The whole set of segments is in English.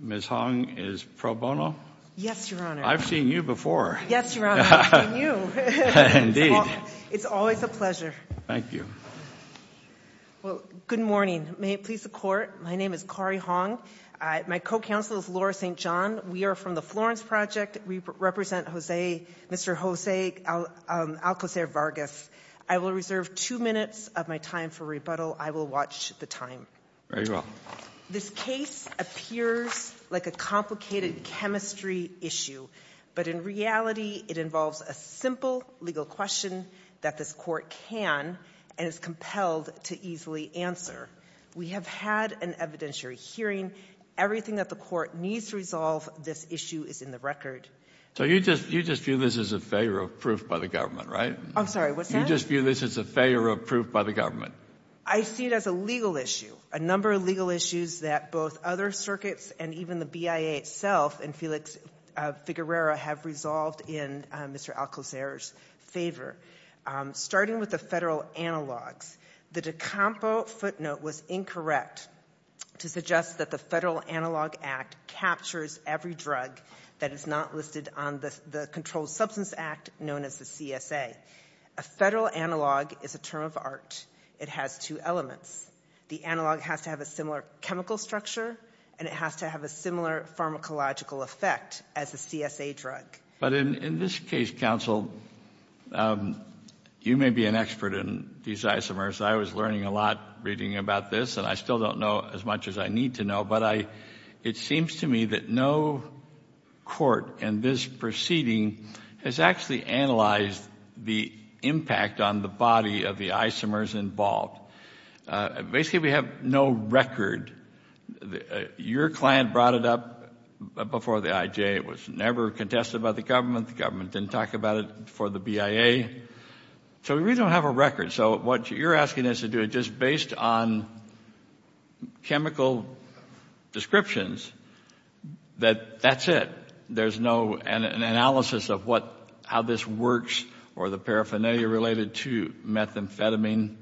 Ms. Hong is pro bono? Yes, Your Honor. I've seen you before. Yes, Your Honor, I've seen you. Indeed. It's always a pleasure. Thank you. Well, good morning. May it please the court, my name is Kari Hong. My co-counsel is Laura St. John. We are from the Florence Project. We represent Mr. Jose Alcocer-Vargas. I will reserve two minutes of my time for rebuttal. I will watch the time. Very well. This case appears like a complicated chemistry issue. But in reality, it involves a simple legal question that this court can and is compelled to easily answer. We have had an evidentiary hearing. Everything that the court needs to resolve this issue is in the record. So you just view this as a failure of proof by the government, right? I'm sorry, what's that? You just view this as a failure of proof by the government. I see it as a legal issue. A number of legal issues that both other circuits and even the BIA itself and Felix Figuerera have resolved in Mr. Alcocer's favor. Starting with the federal analogs, the De Campo footnote was incorrect to suggest that the Federal Analog Act captures every drug that is not listed on the Controlled Substance Act, known as the CSA. A federal analog is a term of art. It has two elements. The analog has to have a similar chemical structure and it has to have a similar pharmacological effect as the CSA drug. But in this case, counsel, you may be an expert in these isomers. I was learning a lot reading about this and I still don't know as much as I need to know, but it seems to me that no court in this proceeding has actually analyzed the impact on the body of the isomers involved. Basically, we have no record. Your client brought it up before the IJ. It was never contested by the government. The government didn't talk about it for the BIA. So we don't have a record. So what you're asking us to do, just based on chemical descriptions, that that's it. There's no analysis of how this works or the paraphernalia related to methamphetamine.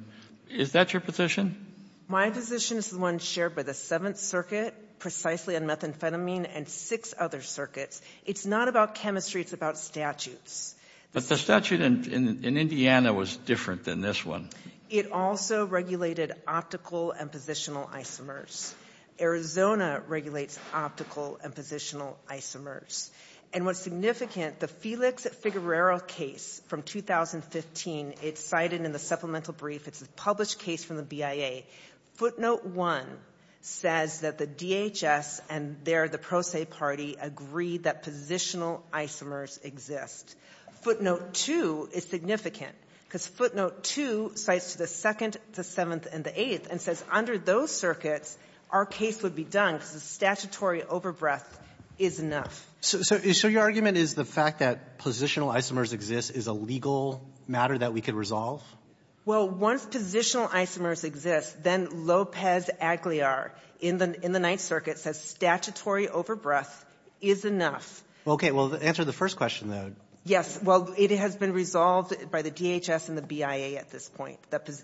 Is that your position? My position is the one shared by the Seventh Circuit precisely on methamphetamine and six other circuits. It's not about chemistry, it's about statutes. But the statute in Indiana was different than this one. It also regulated optical and positional isomers. Arizona regulates optical and positional isomers. And what's significant, the Felix Figueroa case from 2015, it's cited in the supplemental brief. It's a published case from the BIA. Footnote 1 says that the DHS and their, the Pro Se Party, agreed that positional isomers exist. Footnote 2 is significant, because footnote 2 cites to the Second, the Seventh, and the Eighth and says under those circuits, our case would be done because the statutory overbreath is enough. So your argument is the fact that positional isomers exist is a legal matter that we could resolve? Well, once positional isomers exist, then Lopez Aguilar in the Ninth Circuit says statutory overbreath is enough. Okay. Well, answer the first question, though. Yes. Well, it has been resolved by the DHS and the BIA at this point,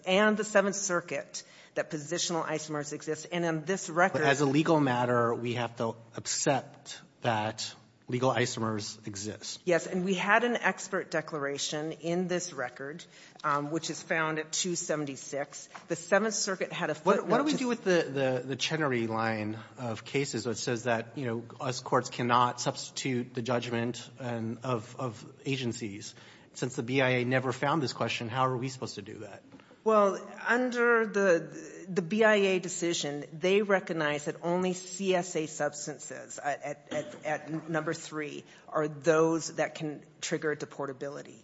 and the Seventh Circuit, that positional isomers exist. And on this record — As a legal matter, we have to accept that legal isomers exist. Yes. And we had an expert declaration in this record, which is found at 276. The Seventh Circuit had a footnote just — What do we do with the Chenery line of cases that says that, you know, us courts cannot substitute the judgment of agencies? Since the BIA never found this question, how are we supposed to do that? Well, under the BIA decision, they recognize that only CSA substances at number three are those that can trigger deportability.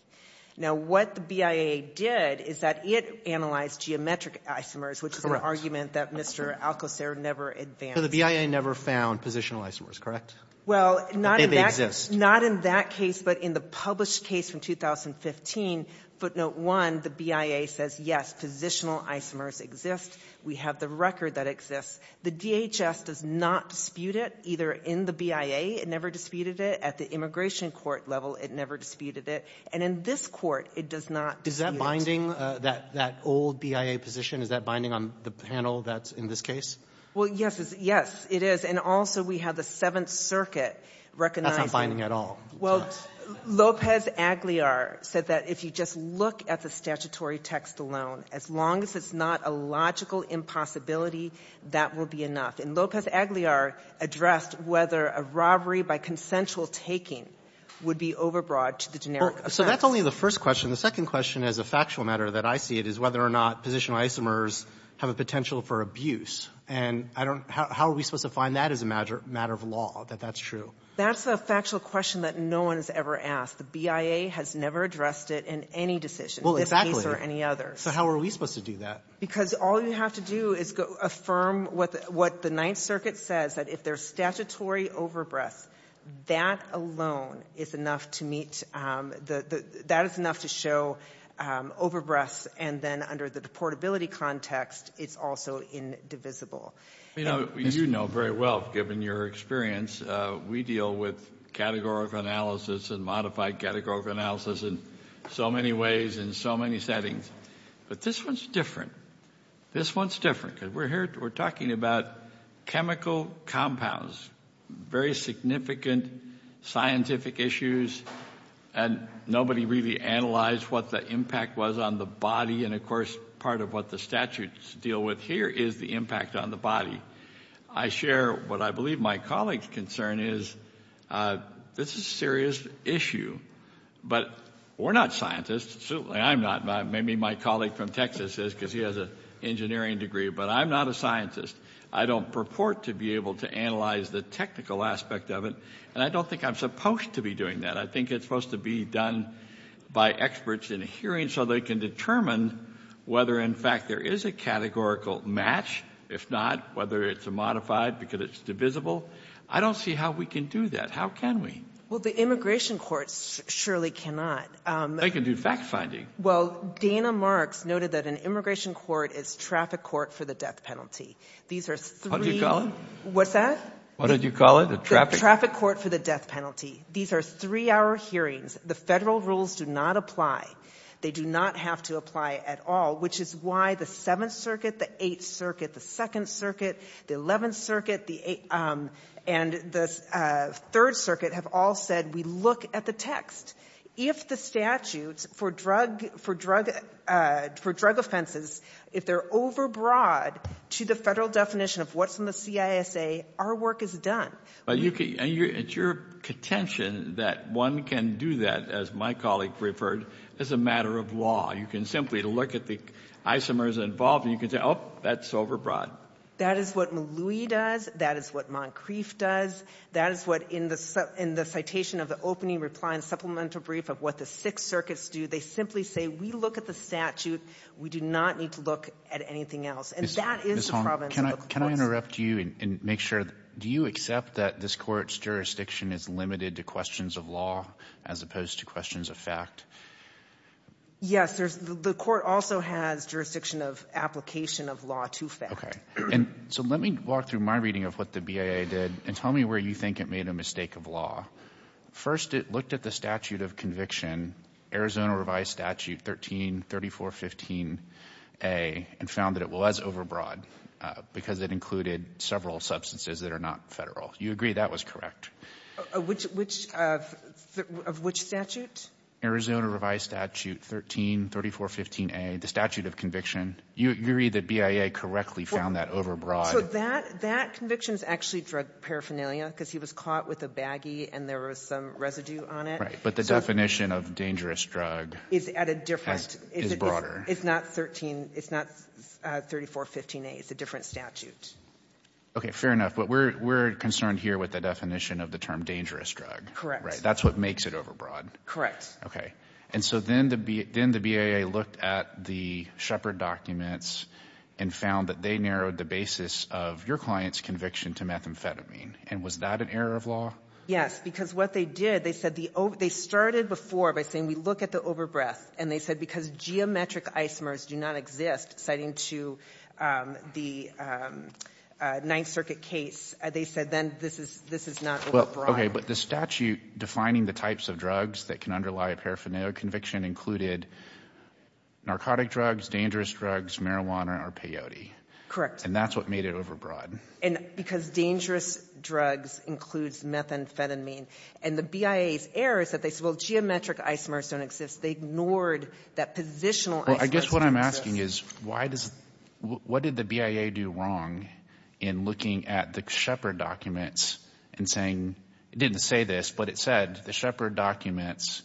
Now, what the BIA did is that it analyzed geometric isomers, which is an argument that Mr. Alcocer never advanced. So the BIA never found positional isomers, correct? Well, not in that case, but in the published case from 2015, footnote one, the BIA says, yes, positional isomers exist. We have the record that exists. The DHS does not dispute it, either in the BIA. It never disputed it. At the immigration court level, it never disputed it. And in this court, it does not dispute it. Is that binding, that old BIA position? Is that binding on the panel that's in this case? Well, yes, it is. And also, we have the Seventh Circuit recognizing — That's not binding at all. Well, Lopez-Agliar said that if you just look at the statutory text alone, as long as it's not a logical impossibility, that will be enough. And Lopez-Agliar addressed whether a robbery by consensual taking would be overbroad to the generic offense. So that's only the first question. The second question, as a factual matter that I see it, is whether or not positional isomers have a potential for abuse. And I don't — how are we supposed to find that as a matter of law, that that's true? That's a factual question that no one has ever asked. The BIA has never addressed it in any decision, in this case or any other. So how are we supposed to do that? Because all you have to do is affirm what the Ninth Circuit says, that if there's statutory overbreath, that alone is enough to meet — that is enough to show overbreaths. And then under the deportability context, it's also indivisible. You know very well, given your experience, we deal with categorical analysis and modified categorical analysis in so many ways, in so many settings. But this one's different. This one's different. Because we're here — we're talking about chemical compounds, very significant scientific issues, and nobody really analyzed what the impact was on the body. And of course, part of what the statutes deal with here is the impact on the body. I share what I believe my colleague's concern is, this is a serious issue. But we're not scientists. Certainly I'm not. Maybe my colleague from Texas is, because he has an engineering degree. But I'm not a scientist. I don't purport to be able to analyze the technical aspect of it. And I don't think I'm supposed to be doing that. I think it's supposed to be done by experts in a hearing so they can determine whether, in fact, there is a categorical match. If not, whether it's a modified because it's divisible. I don't see how we can do that. How can we? Well, the immigration courts surely cannot. They can do fact-finding. Well, Dana Marks noted that an immigration court is traffic court for the death penalty. These are three — What did you call it? What's that? What did you call it? A traffic — Traffic court for the death penalty. These are three-hour hearings. The federal rules do not apply. They do not have to apply at all, which is why the Seventh Circuit, the Eighth Circuit, the Second Circuit, the Eleventh Circuit, and the Third Circuit have all said we look at the text. If the statutes for drug — for drug — for drug offenses, if they're overbroad to the federal definition of what's in the CISA, our work is done. But you can — it's your contention that one can do that, as my colleague referred, as a matter of law. You can simply look at the isomers involved, and you can say, oh, that's overbroad. That is what Maloui does. That is what Moncrief does. That is what, in the citation of the opening reply and supplemental brief of what the Sixth Circuits do, they simply say we look at the statute. We do not need to look at anything else. And that is the problem. Can I interrupt you and make sure — do you accept that this Court's jurisdiction is limited to questions of law as opposed to questions of fact? Yes, there's — the Court also has jurisdiction of application of law to fact. Okay. And so let me walk through my reading of what the BIA did, and tell me where you think it made a mistake of law. First, it looked at the statute of conviction, Arizona Revised Statute 133415a, and found it was overbroad because it included several substances that are not federal. You agree that was correct? Which — of which statute? Arizona Revised Statute 133415a, the statute of conviction. You agree that BIA correctly found that overbroad? So that — that conviction is actually drug paraphernalia, because he was caught with a baggie, and there was some residue on it. Right. But the definition of dangerous drug — Is at a different — Is broader. It's not 13 — it's not 3415a. It's a different statute. Okay. Fair enough. But we're — we're concerned here with the definition of the term dangerous drug. Correct. Right. That's what makes it overbroad. Correct. Okay. And so then the BIA looked at the Shepherd documents and found that they narrowed the basis of your client's conviction to methamphetamine. And was that an error of law? Yes. Because what they did, they said the — they started before by saying we look at the And they said because geometric isomers do not exist, citing to the Ninth Circuit case, they said then this is — this is not overbroad. But the statute defining the types of drugs that can underlie a paraphernalia conviction included narcotic drugs, dangerous drugs, marijuana, or peyote. Correct. And that's what made it overbroad. And because dangerous drugs includes methamphetamine. And the BIA's error is that they said, well, geometric isomers don't exist. They ignored that positional isomers don't exist. Well, I guess what I'm asking is why does — what did the BIA do wrong in looking at the Shepherd documents and saying — it didn't say this, but it said the Shepherd documents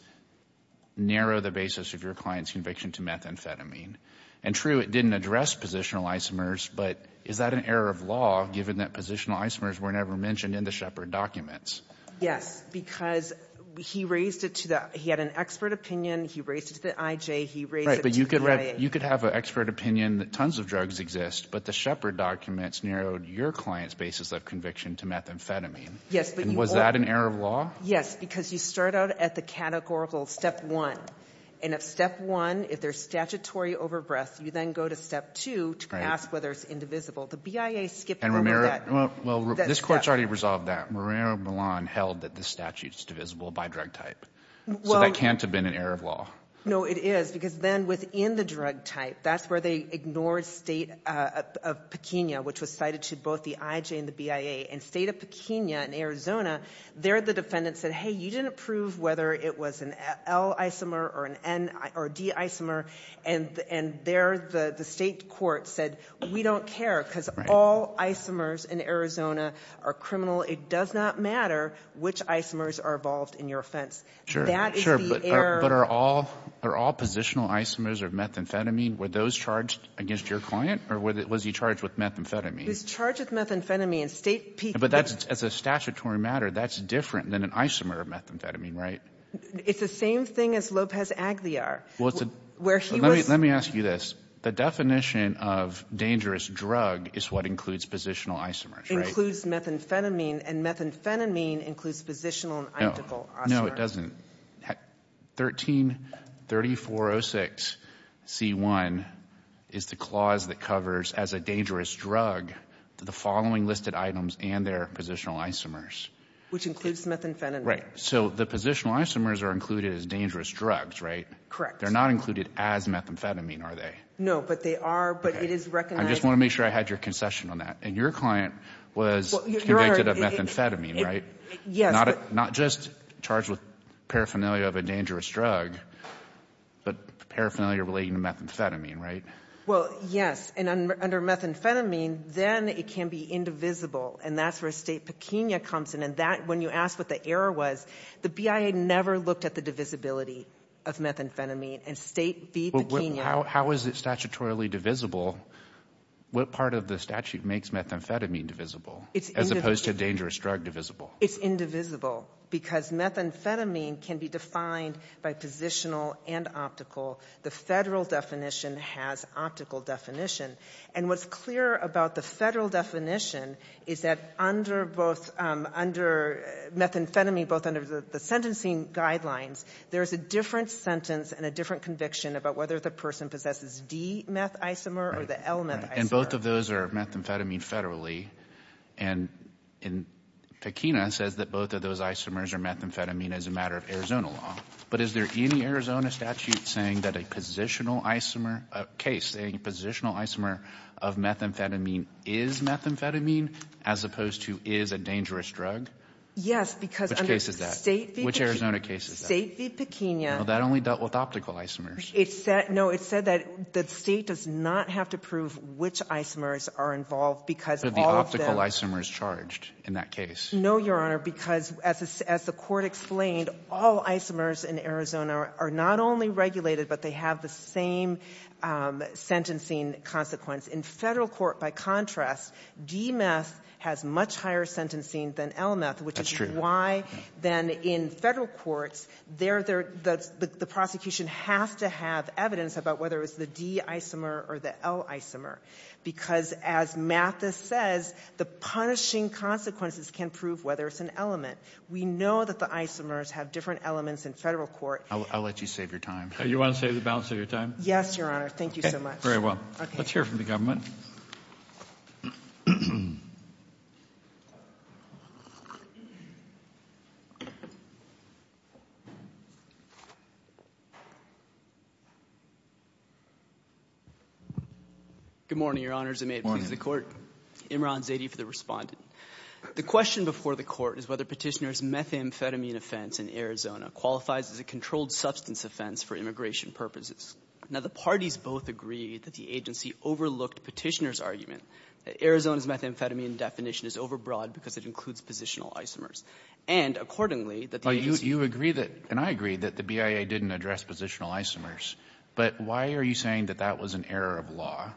narrow the basis of your client's conviction to methamphetamine. And true, it didn't address positional isomers, but is that an error of law given that positional isomers were never mentioned in the Shepherd documents? Yes. Because he raised it to the — he had an expert opinion. He raised it to the IJ. He raised it to the BIA. But you could — you could have an expert opinion that tons of drugs exist, but the Shepherd documents narrowed your client's basis of conviction to methamphetamine. Yes, but you — And was that an error of law? Yes, because you start out at the categorical step one. And at step one, if there's statutory overbreath, you then go to step two to ask whether it's indivisible. The BIA skipped over that step. And Romero — well, this Court's already resolved that. Romero Milan held that the statute's divisible by drug type. Well — So that can't have been an error of law. No, it is. Because then within the drug type, that's where they ignored State of Pequena, which was cited to both the IJ and the BIA. And State of Pequena in Arizona, there the defendant said, hey, you didn't prove whether it was an L isomer or an N — or a D isomer. And there the state court said, we don't care because all isomers in Arizona are criminal. It does not matter which isomers are involved in your offense. Sure. That is the error — But are all — are all positional isomers of methamphetamine? Were those charged against your client? Or was he charged with methamphetamine? He's charged with methamphetamine. And State — But that's — as a statutory matter, that's different than an isomer of methamphetamine, right? It's the same thing as Lopez Aguilar, where he was — Let me ask you this. The definition of dangerous drug is what includes positional isomers, right? Includes methamphetamine, and methamphetamine includes positional and identical isomers. No, it doesn't. 13-3406-C1 is the clause that covers as a dangerous drug the following listed items and their positional isomers. Which includes methamphetamine. Right. So the positional isomers are included as dangerous drugs, right? Correct. They're not included as methamphetamine, are they? No, but they are — but it is recognized — I just want to make sure I had your concession on that. And your client was convicted of methamphetamine, right? Yes, but — Not just charged with paraphernalia of a dangerous drug, but paraphernalia relating to methamphetamine, right? Well, yes. And under methamphetamine, then it can be indivisible. And that's where State pequena comes in. And that — when you asked what the error was, the BIA never looked at the divisibility of methamphetamine. And State v. Pequena — How is it statutorily divisible? What part of the statute makes methamphetamine divisible, as opposed to dangerous drug divisible? It's indivisible. Because methamphetamine can be defined by positional and optical. The federal definition has optical definition. And what's clear about the federal definition is that under both — under methamphetamine, both under the sentencing guidelines, there is a different sentence and a different conviction about whether the person possesses methamphetamine as a matter of Arizona law. But is there any Arizona statute saying that a positional isomer — a case — a positional isomer of methamphetamine is methamphetamine, as opposed to is a dangerous drug? Yes, because — Which case is that? Which Arizona case is that? State v. Pequena. That only dealt with optical isomers. It said — no, it said that the State does not have to prove which isomers are involved, because all of them — But the optical isomer is charged in that case. No, Your Honor, because, as the Court explained, all isomers in Arizona are not only regulated, but they have the same sentencing consequence. In federal court, by contrast, DMETH has much higher sentencing than LMETH, which is — That's true. Why? Then, in federal courts, the prosecution has to have evidence about whether it's the D isomer or the L isomer, because, as Mathis says, the punishing consequences can prove whether it's an element. We know that the isomers have different elements in federal court. I'll let you save your time. You want to save the balance of your time? Yes, Your Honor. Thank you so much. Very well. Let's hear from the government. Good morning, Your Honors, and may it please the Court. Imran Zaidi for the Respondent. The question before the Court is whether Petitioner's methamphetamine offense in Arizona qualifies as a controlled substance offense for immigration purposes. Now, the parties both agree that the agency overlooked Petitioner's argument that Arizona's methamphetamine definition is overbroad because it includes positional isomers, and, accordingly, that the agency — Well, you agree that, and I agree, that the BIA didn't address positional isomers, but why are you saying that that was an error of law?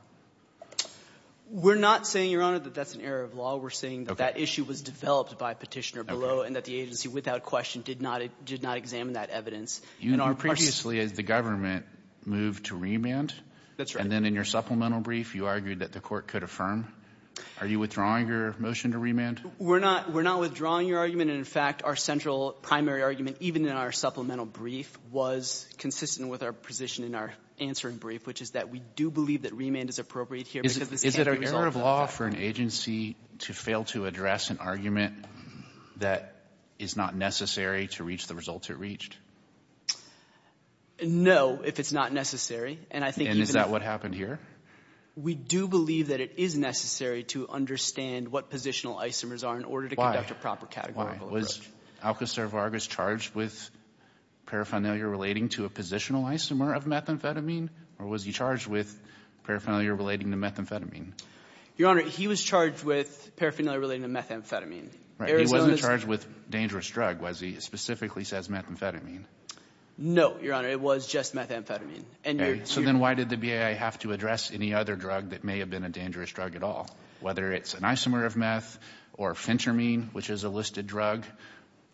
We're not saying, Your Honor, that that's an error of law. We're saying that that issue was developed by Petitioner below and that the agency without question did not examine that evidence. You previously, as the government, moved to remand. That's right. And then in your supplemental brief, you argued that the Court could affirm. Are you withdrawing your motion to remand? We're not — we're not withdrawing your argument. And, in fact, our central primary argument, even in our supplemental brief, was consistent with our position in our answering brief, which is that we do believe that remand is appropriate here because this can't be resolved without a trial. Is it an error of law for an agency to fail to address an argument that is not necessary to reach the results it reached? No, if it's not necessary. And I think even if — And is that what happened here? We do believe that it is necessary to understand what positional isomers are in order to conduct a proper categorical approach. Was Alcazar Vargas charged with paraphernalia relating to a positional isomer of methamphetamine, or was he charged with paraphernalia relating to methamphetamine? Your Honor, he was charged with paraphernalia relating to methamphetamine. Right. He wasn't charged with dangerous drug, was he? Specifically says methamphetamine. No, Your Honor. It was just methamphetamine. So then why did the BIA have to address any other drug that may have been a dangerous drug at all, whether it's an isomer of meth or fentermine, which is a listed drug,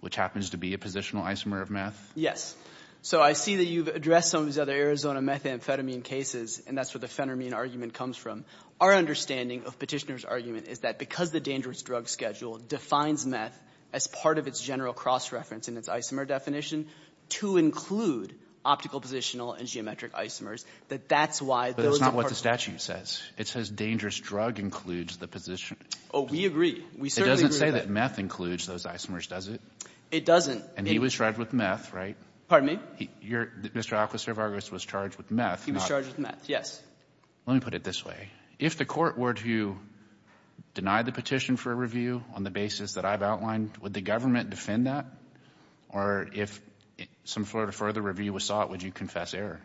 which happens to be a positional isomer of meth? Yes. So I see that you've addressed some of these other Arizona methamphetamine cases, and that's where the fentermine argument comes from. Our understanding of Petitioner's argument is that because the dangerous drug schedule defines meth as part of its general cross-reference in its isomer definition, to include optical, positional, and geometric isomers, that that's why those are part of it. But it's not what the statute says. It says dangerous drug includes the position. Oh, we agree. We certainly agree with that. It doesn't say that meth includes those isomers, does it? It doesn't. And he was charged with meth, right? Pardon me? Mr. Alquist-Cervargus was charged with meth, not — He was charged with meth, yes. Let me put it this way. If the Court were to deny the petition for review on the basis that I've outlined, would the government defend that? Or if some further review was sought, would you confess error?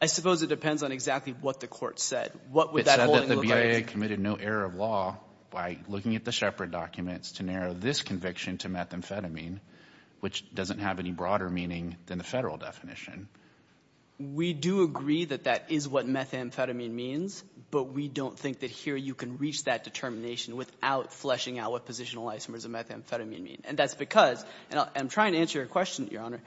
I suppose it depends on exactly what the Court said. What would that holding look like? It said that the BIA committed no error of law by looking at the Shepard documents to narrow this conviction to methamphetamine, which doesn't have any broader meaning than the federal definition. We do agree that that is what methamphetamine means, but we don't think that here you can reach that determination without fleshing out what positional isomers and methamphetamine mean. And that's because — and I'm trying to answer your question, Your Honor.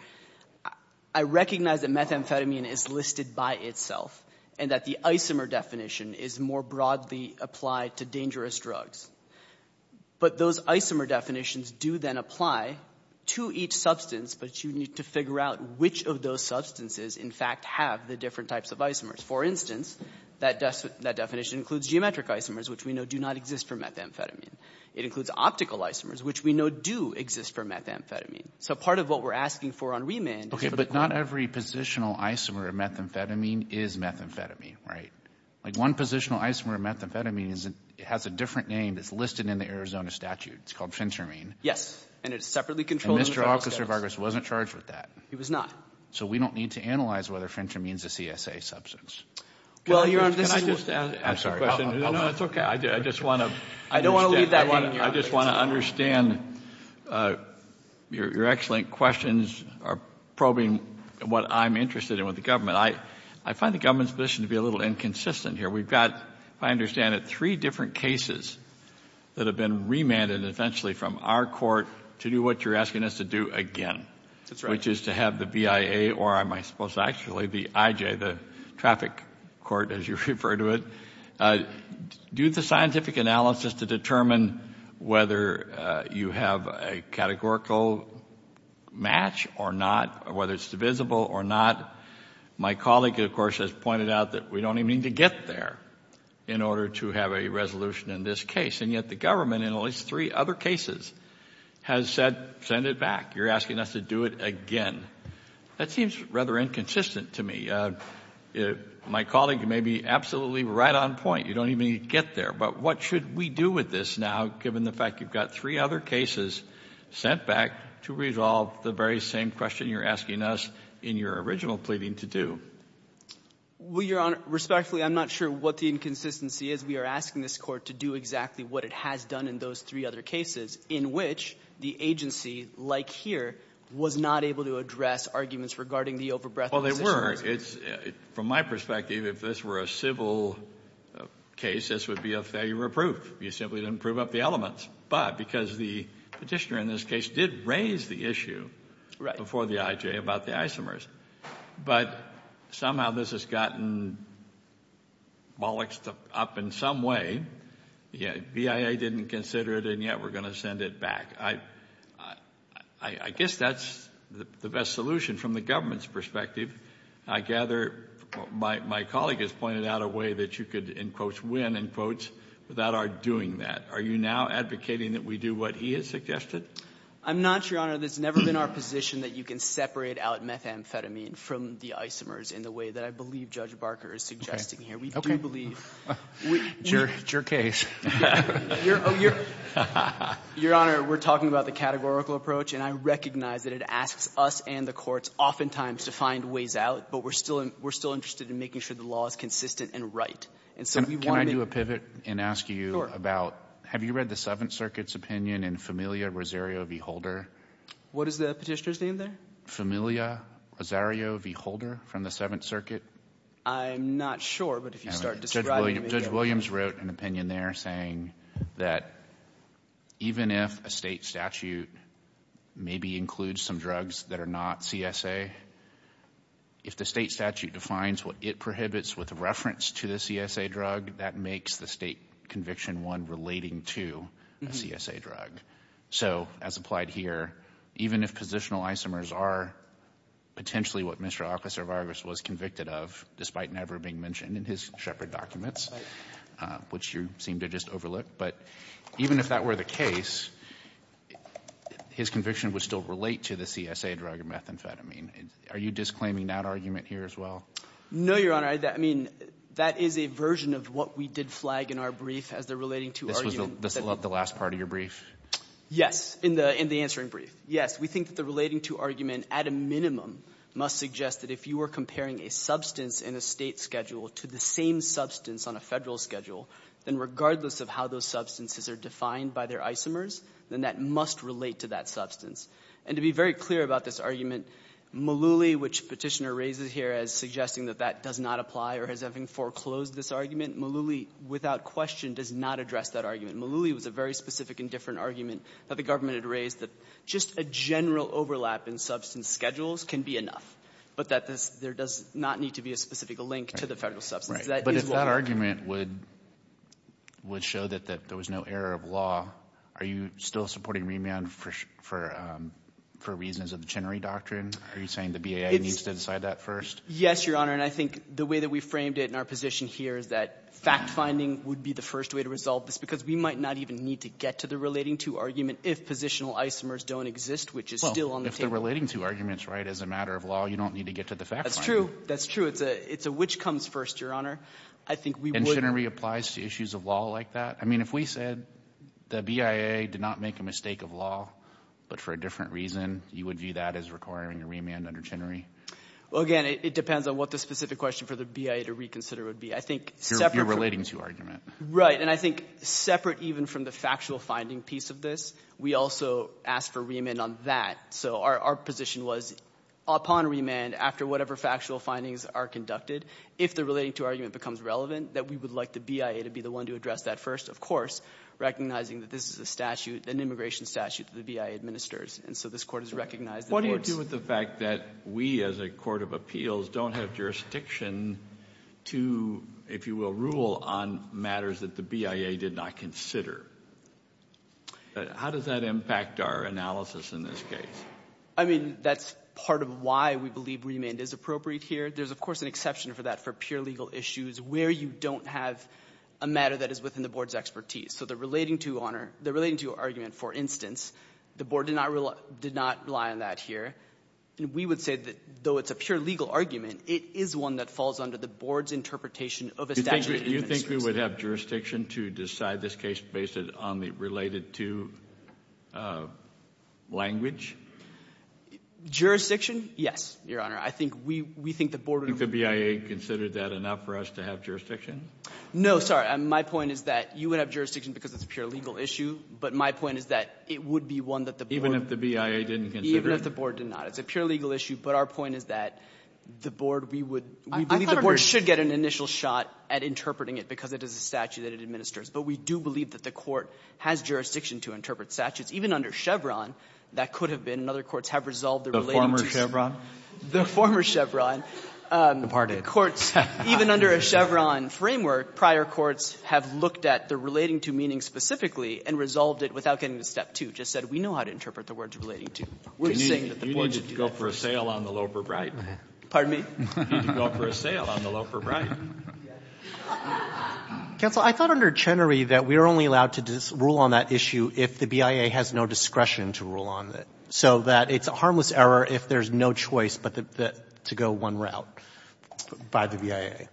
I recognize that methamphetamine is listed by itself and that the isomer definition is more broadly applied to dangerous drugs. But those isomer definitions do then apply to each substance, but you need to figure out which of those substances, in fact, have the different types of isomers. For instance, that definition includes geometric isomers, which we know do not exist for methamphetamine. It includes optical isomers, which we know do exist for methamphetamine. So part of what we're asking for on remand — Okay, but not every positional isomer of methamphetamine is methamphetamine, right? Like one positional isomer of methamphetamine is — it has a different name that's listed in the Arizona statute. It's called phentermine. Yes, and it's separately controlled — And Mr. Officer Vargas wasn't charged with that. He was not. So we don't need to analyze whether phentermine is a CSA substance. Well, Your Honor, this is — Can I just ask a question? No, no, it's okay. I just want to — I just want to understand your excellent questions are probing what I'm interested in with the government. I find the government's position to be a little inconsistent here. We've got, if I understand it, three different cases that have been remanded eventually from our court to do what you're asking us to do again. That's right. Which is to have the BIA, or am I supposed to actually, the IJ, the traffic court, as you refer to it, do the scientific analysis to determine whether you have a categorical match or not, whether it's divisible or not. My colleague, of course, has pointed out that we don't even need to get there in order to have a resolution in this case. And yet the government, in at least three other cases, has said, send it back. You're asking us to do it again. That seems rather inconsistent to me. My colleague, you may be absolutely right on point. You don't even need to get there. But what should we do with this now, given the fact you've got three other cases sent back to resolve the very same question you're asking us in your original pleading to do? Well, Your Honor, respectfully, I'm not sure what the inconsistency is. We are asking this court to do exactly what it has done in those three other cases, in which the agency, like here, was not able to address arguments regarding the overbreadth of positions. Well, they were. From my perspective, if this were a civil case, this would be a failure of proof. You simply didn't prove up the elements. But because the petitioner in this case did raise the issue before the IJ about the isomers. But somehow this has gotten bollocked up in some way. BIA didn't consider it, and yet we're going to send it back. I guess that's the best solution from the government's perspective. I gather my colleague has pointed out a way that you could, in quotes, win, in quotes, without our doing that. Are you now advocating that we do what he has suggested? I'm not, Your Honor. That's never been our position that you can separate out methamphetamine from the isomers in the way that I believe Judge Barker is suggesting here. We don't believe. It's your case. Your Honor, we're talking about the categorical approach, and I recognize that it asks us and the courts oftentimes to find ways out, but we're still interested in making sure the law is consistent and right. And so we want to make — Can I do a pivot and ask you about — Have you read the Seventh Circuit's opinion in Familia Rosario v. Holder? What is the Petitioner's name there? Familia Rosario v. Holder from the Seventh Circuit. I'm not sure, but if you start describing — Judge Williams wrote an opinion there saying that even if a State statute maybe includes some drugs that are not CSA, if the State statute defines what it prohibits with reference to the CSA drug, that makes the State conviction one relating to a CSA drug. So as applied here, even if positional isomers are potentially what Mr. Aklas or Vargas was convicted of, despite never being mentioned in his Shepard documents, which you seem to just overlook, but even if that were the case, his conviction would still relate to the CSA drug or methamphetamine. Are you disclaiming that argument here as well? No, Your Honor. I mean, that is a version of what we did flag in our brief as the relating-to argument. This was the last part of your brief? Yes, in the answering brief. Yes, we think that the relating-to argument at a minimum must suggest that if you were comparing a substance in a State schedule to the same substance on a Federal schedule, then regardless of how those substances are defined by their isomers, then that must relate to that substance. And to be very clear about this argument, Malooly, which Petitioner raises here as suggesting that that does not apply or has having foreclosed this argument, Malooly, without question, does not address that argument. Malooly was a very specific and different argument that the government had raised that just a general overlap in substance schedules can be enough, but that there does not need to be a specific link to the Federal substance. But if that argument would show that there was no error of law, are you still supporting Riemann for reasons of the Chenery Doctrine? Are you saying the BIA needs to decide that first? Yes, Your Honor. And I think the way that we framed it in our position here is that fact-finding would be the first way to resolve this because we might not even need to get to the relating-to argument if positional isomers don't exist, which is still on the table. If the relating-to argument's right as a matter of law, you don't need to get to the fact-finding. That's true. That's true. It's a which comes first, Your Honor. I think we would. And Chenery applies to issues of law like that? If we said the BIA did not make a mistake of law, but for a different reason, you would view that as requiring a Riemann under Chenery? Well, again, it depends on what the specific question for the BIA to reconsider would be. I think separate... Your relating-to argument. Right. And I think separate even from the factual-finding piece of this, we also asked for Riemann on that. So our position was upon Riemann, after whatever factual findings are conducted, if the relating-to argument becomes relevant, that we would like the BIA to be the one to address that first, of course, recognizing that this is a statute, an immigration statute that the BIA administers. And so this Court has recognized... What do you do with the fact that we, as a court of appeals, don't have jurisdiction to, if you will, rule on matters that the BIA did not consider? How does that impact our analysis in this case? I mean, that's part of why we believe Riemann is appropriate here. There's, of course, an exception for that for pure legal issues where you don't have a matter that is within the board's expertise. So the relating-to argument, for instance, the board did not rely on that here. And we would say that, though it's a pure legal argument, it is one that falls under the board's interpretation of a statute... Do you think we would have jurisdiction to decide this case based on the related-to language? Jurisdiction? Yes, Your Honor. I think we think the board... Do you think the BIA considered that enough for us to have jurisdiction? No, sorry. My point is that you would have jurisdiction because it's a pure legal issue. But my point is that it would be one that the board... Even if the BIA didn't consider it? Even if the board did not. It's a pure legal issue. But our point is that the board, we would believe the board should get an initial shot at interpreting it because it is a statute that it administers. But we do believe that the court has jurisdiction to interpret statutes. Even under Chevron, that could have been, and other courts have resolved the related-to... The former Chevron? The former Chevron. Departed. Even under a Chevron framework, prior courts have looked at the relating-to meaning specifically and resolved it without getting to step two. Just said, we know how to interpret the words relating-to. We're saying that the board should do that. You need to go for a sale on the low for bright. Pardon me? You need to go for a sale on the low for bright. Counsel, I thought under Chenery that we're only allowed to rule on that issue if the BIA has no discretion to rule on it. So that it's a harmless error if there's no choice but to go one route. By the BIA.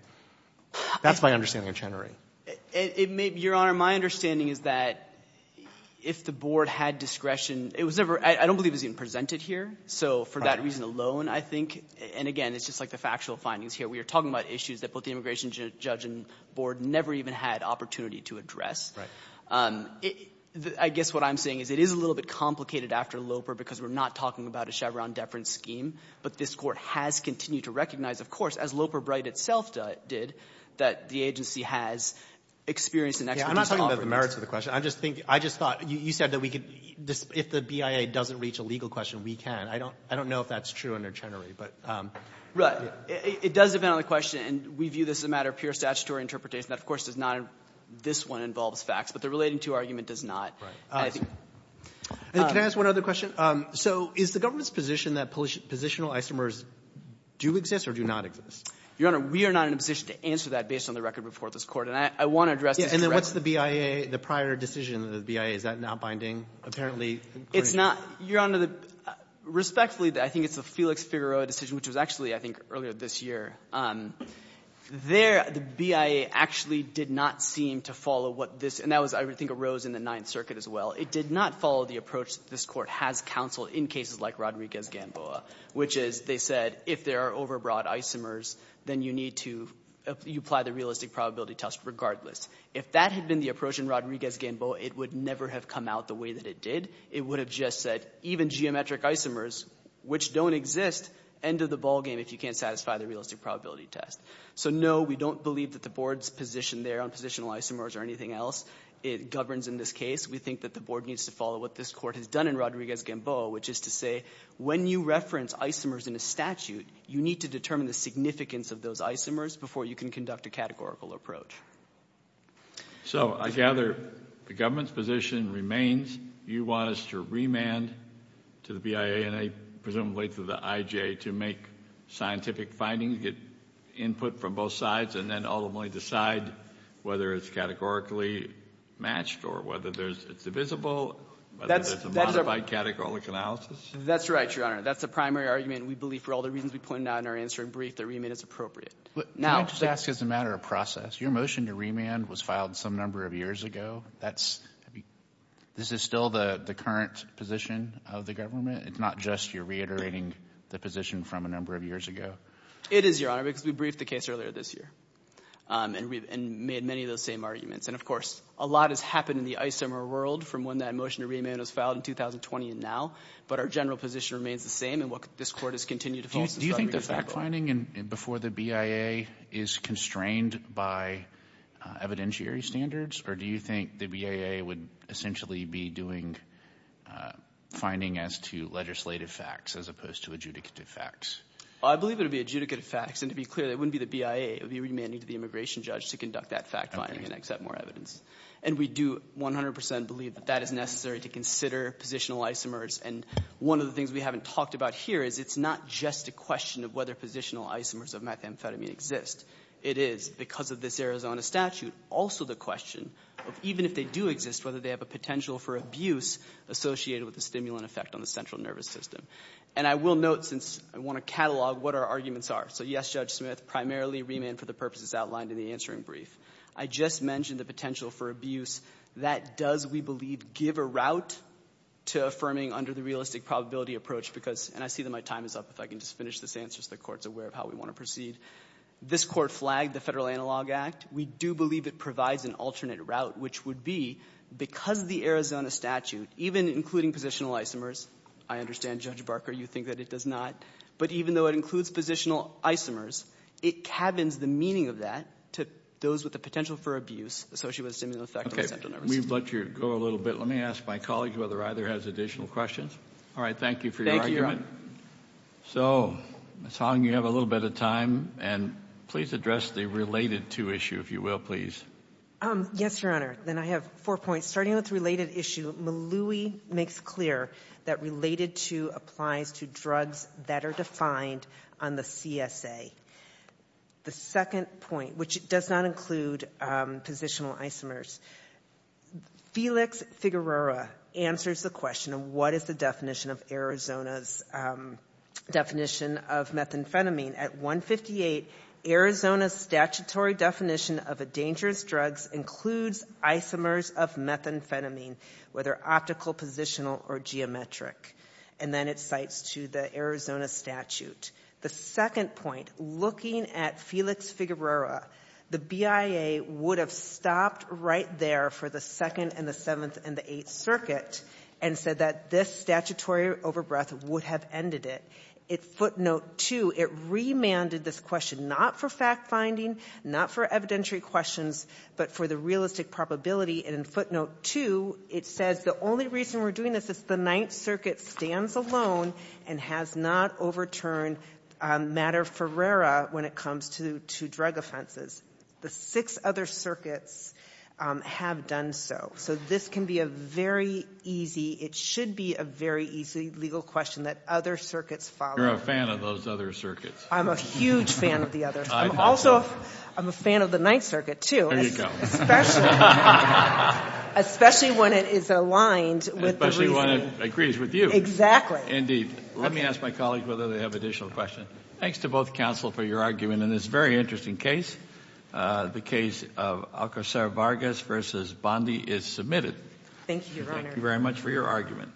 That's my understanding of Chenery. Your Honor, my understanding is that if the board had discretion, it was never, I don't believe it was even presented here. So for that reason alone, I think, and again, it's just like the factual findings here. We are talking about issues that both the immigration judge and board never even had opportunity to address. I guess what I'm saying is it is a little bit complicated after Loper because we're not talking about a Chevron deference scheme. But this Court has continued to recognize, of course, as Loper Bright itself did, that the agency has experienced an extradition offer. I'm not talking about the merits of the question. I just think, I just thought, you said that we could, if the BIA doesn't reach a legal question, we can. I don't know if that's true under Chenery. It does depend on the question. And we view this as a matter of pure statutory interpretation. That, of course, does not, this one involves facts. But the relating to argument does not. Right. Can I ask one other question? So is the government's position that positional isomers do exist or do not exist? Your Honor, we are not in a position to answer that based on the record before this Court. And I want to address this directly. And then what's the BIA, the prior decision of the BIA? Is that not binding, apparently? It's not, Your Honor. Respectfully, I think it's the Felix Figueroa decision, which was actually, I think, earlier this year. There, the BIA actually did not seem to follow what this, and that was, I think, arose in the Ninth Circuit as well. It did not follow the approach this Court has counseled in cases like Rodriguez-Gamboa, which is, they said, if there are overbroad isomers, then you need to, you apply the realistic probability test regardless. If that had been the approach in Rodriguez-Gamboa, it would never have come out the way that it did. It would have just said, even geometric isomers, which don't exist, end of the ball game if you can't satisfy the realistic probability test. So, no, we don't believe that the Board's position there on positional isomers or anything else governs in this case. We think that the Board needs to follow what this Court has done in Rodriguez-Gamboa, which is to say, when you reference isomers in a statute, you need to determine the significance of those isomers before you can conduct a categorical approach. So, I gather the government's position remains, you want us to remand to the BIA, and presumably to the IJA, to make scientific findings, get input from both sides, and ultimately decide whether it's categorically matched or whether it's divisible, whether there's a modified categorical analysis? That's right, Your Honor. That's the primary argument. We believe, for all the reasons we pointed out in our answering brief, that remand is appropriate. Can I just ask as a matter of process, your motion to remand was filed some number of years ago. This is still the current position of the government? It's not just you're reiterating the position from a number of years ago? It is, Your Honor, because we briefed the case earlier this year. And made many of those same arguments. And, of course, a lot has happened in the isomer world from when that motion to remand was filed in 2020 and now. But our general position remains the same, and what this Court has continued to falsify. Do you think the fact-finding before the BIA is constrained by evidentiary standards? Or do you think the BIA would essentially be doing finding as to legislative facts as opposed to adjudicative facts? I believe it would be adjudicative facts. And to be clear, it wouldn't be the BIA. It would be remanding to the immigration judge to conduct that fact-finding and accept more evidence. And we do 100% believe that that is necessary to consider positional isomers. And one of the things we haven't talked about here is it's not just a question of whether positional isomers of methamphetamine exist. It is, because of this Arizona statute, also the question of even if they do exist, whether they have a potential for abuse associated with the stimulant effect on the central nervous system. And I will note, since I want to catalog what our arguments are. So, yes, Judge Smith, primarily remand for the purposes outlined in the answering brief. I just mentioned the potential for abuse. That does, we believe, give a route to affirming under the realistic probability approach, because, and I see that my time is up. If I can just finish this answer so the Court is aware of how we want to proceed. This Court flagged the Federal Analog Act. We do believe it provides an alternate route, which would be, because of the Arizona statute, even including positional isomers, I understand, Judge Barker, you think that it does not. But even though it includes positional isomers, it cabins the meaning of that to those with the potential for abuse associated with the stimulant effect on the central nervous system. We've let you go a little bit. Let me ask my colleague whether either has additional questions. All right. Thank you for your argument. So, Ms. Hong, you have a little bit of time. And please address the related to issue, if you will, please. Yes, Your Honor. Then I have four points. Starting with the related issue, Maloui makes clear that related to applies to drugs that are defined on the CSA. The second point, which does not include positional isomers, Felix Figueroa answers the question of what is the definition of Arizona's definition of methamphetamine. At 158, Arizona's statutory definition of a dangerous drug includes isomers of methamphetamine, whether optical, positional, or geometric. And then it cites to the Arizona statute. The second point, looking at Felix Figueroa, the BIA would have stopped right there for the Second and the Seventh and the Eighth Circuit and said that this statutory overbreath would have ended it. At footnote two, it remanded this question not for fact-finding, not for evidentiary questions, but for the realistic probability. And in footnote two, it says the only reason we're doing this is the Ninth Circuit stands alone and has not overturned Matter Ferreira when it comes to drug offenses. The six other circuits have done so. So this can be a very easy, it should be a very easy legal question that other circuits follow. You're a fan of those other circuits. I'm a huge fan of the others. I'm also a fan of the Ninth Circuit, too. There you go. Especially when it is aligned with the reasoning. Especially when it agrees with you. Exactly. Indeed. Let me ask my colleagues whether they have additional questions. Thanks to both counsel for your argument in this very interesting case. The case of Alcocer Vargas v. Bondi is submitted. Thank you, Your Honor. Thank you very much for your argument.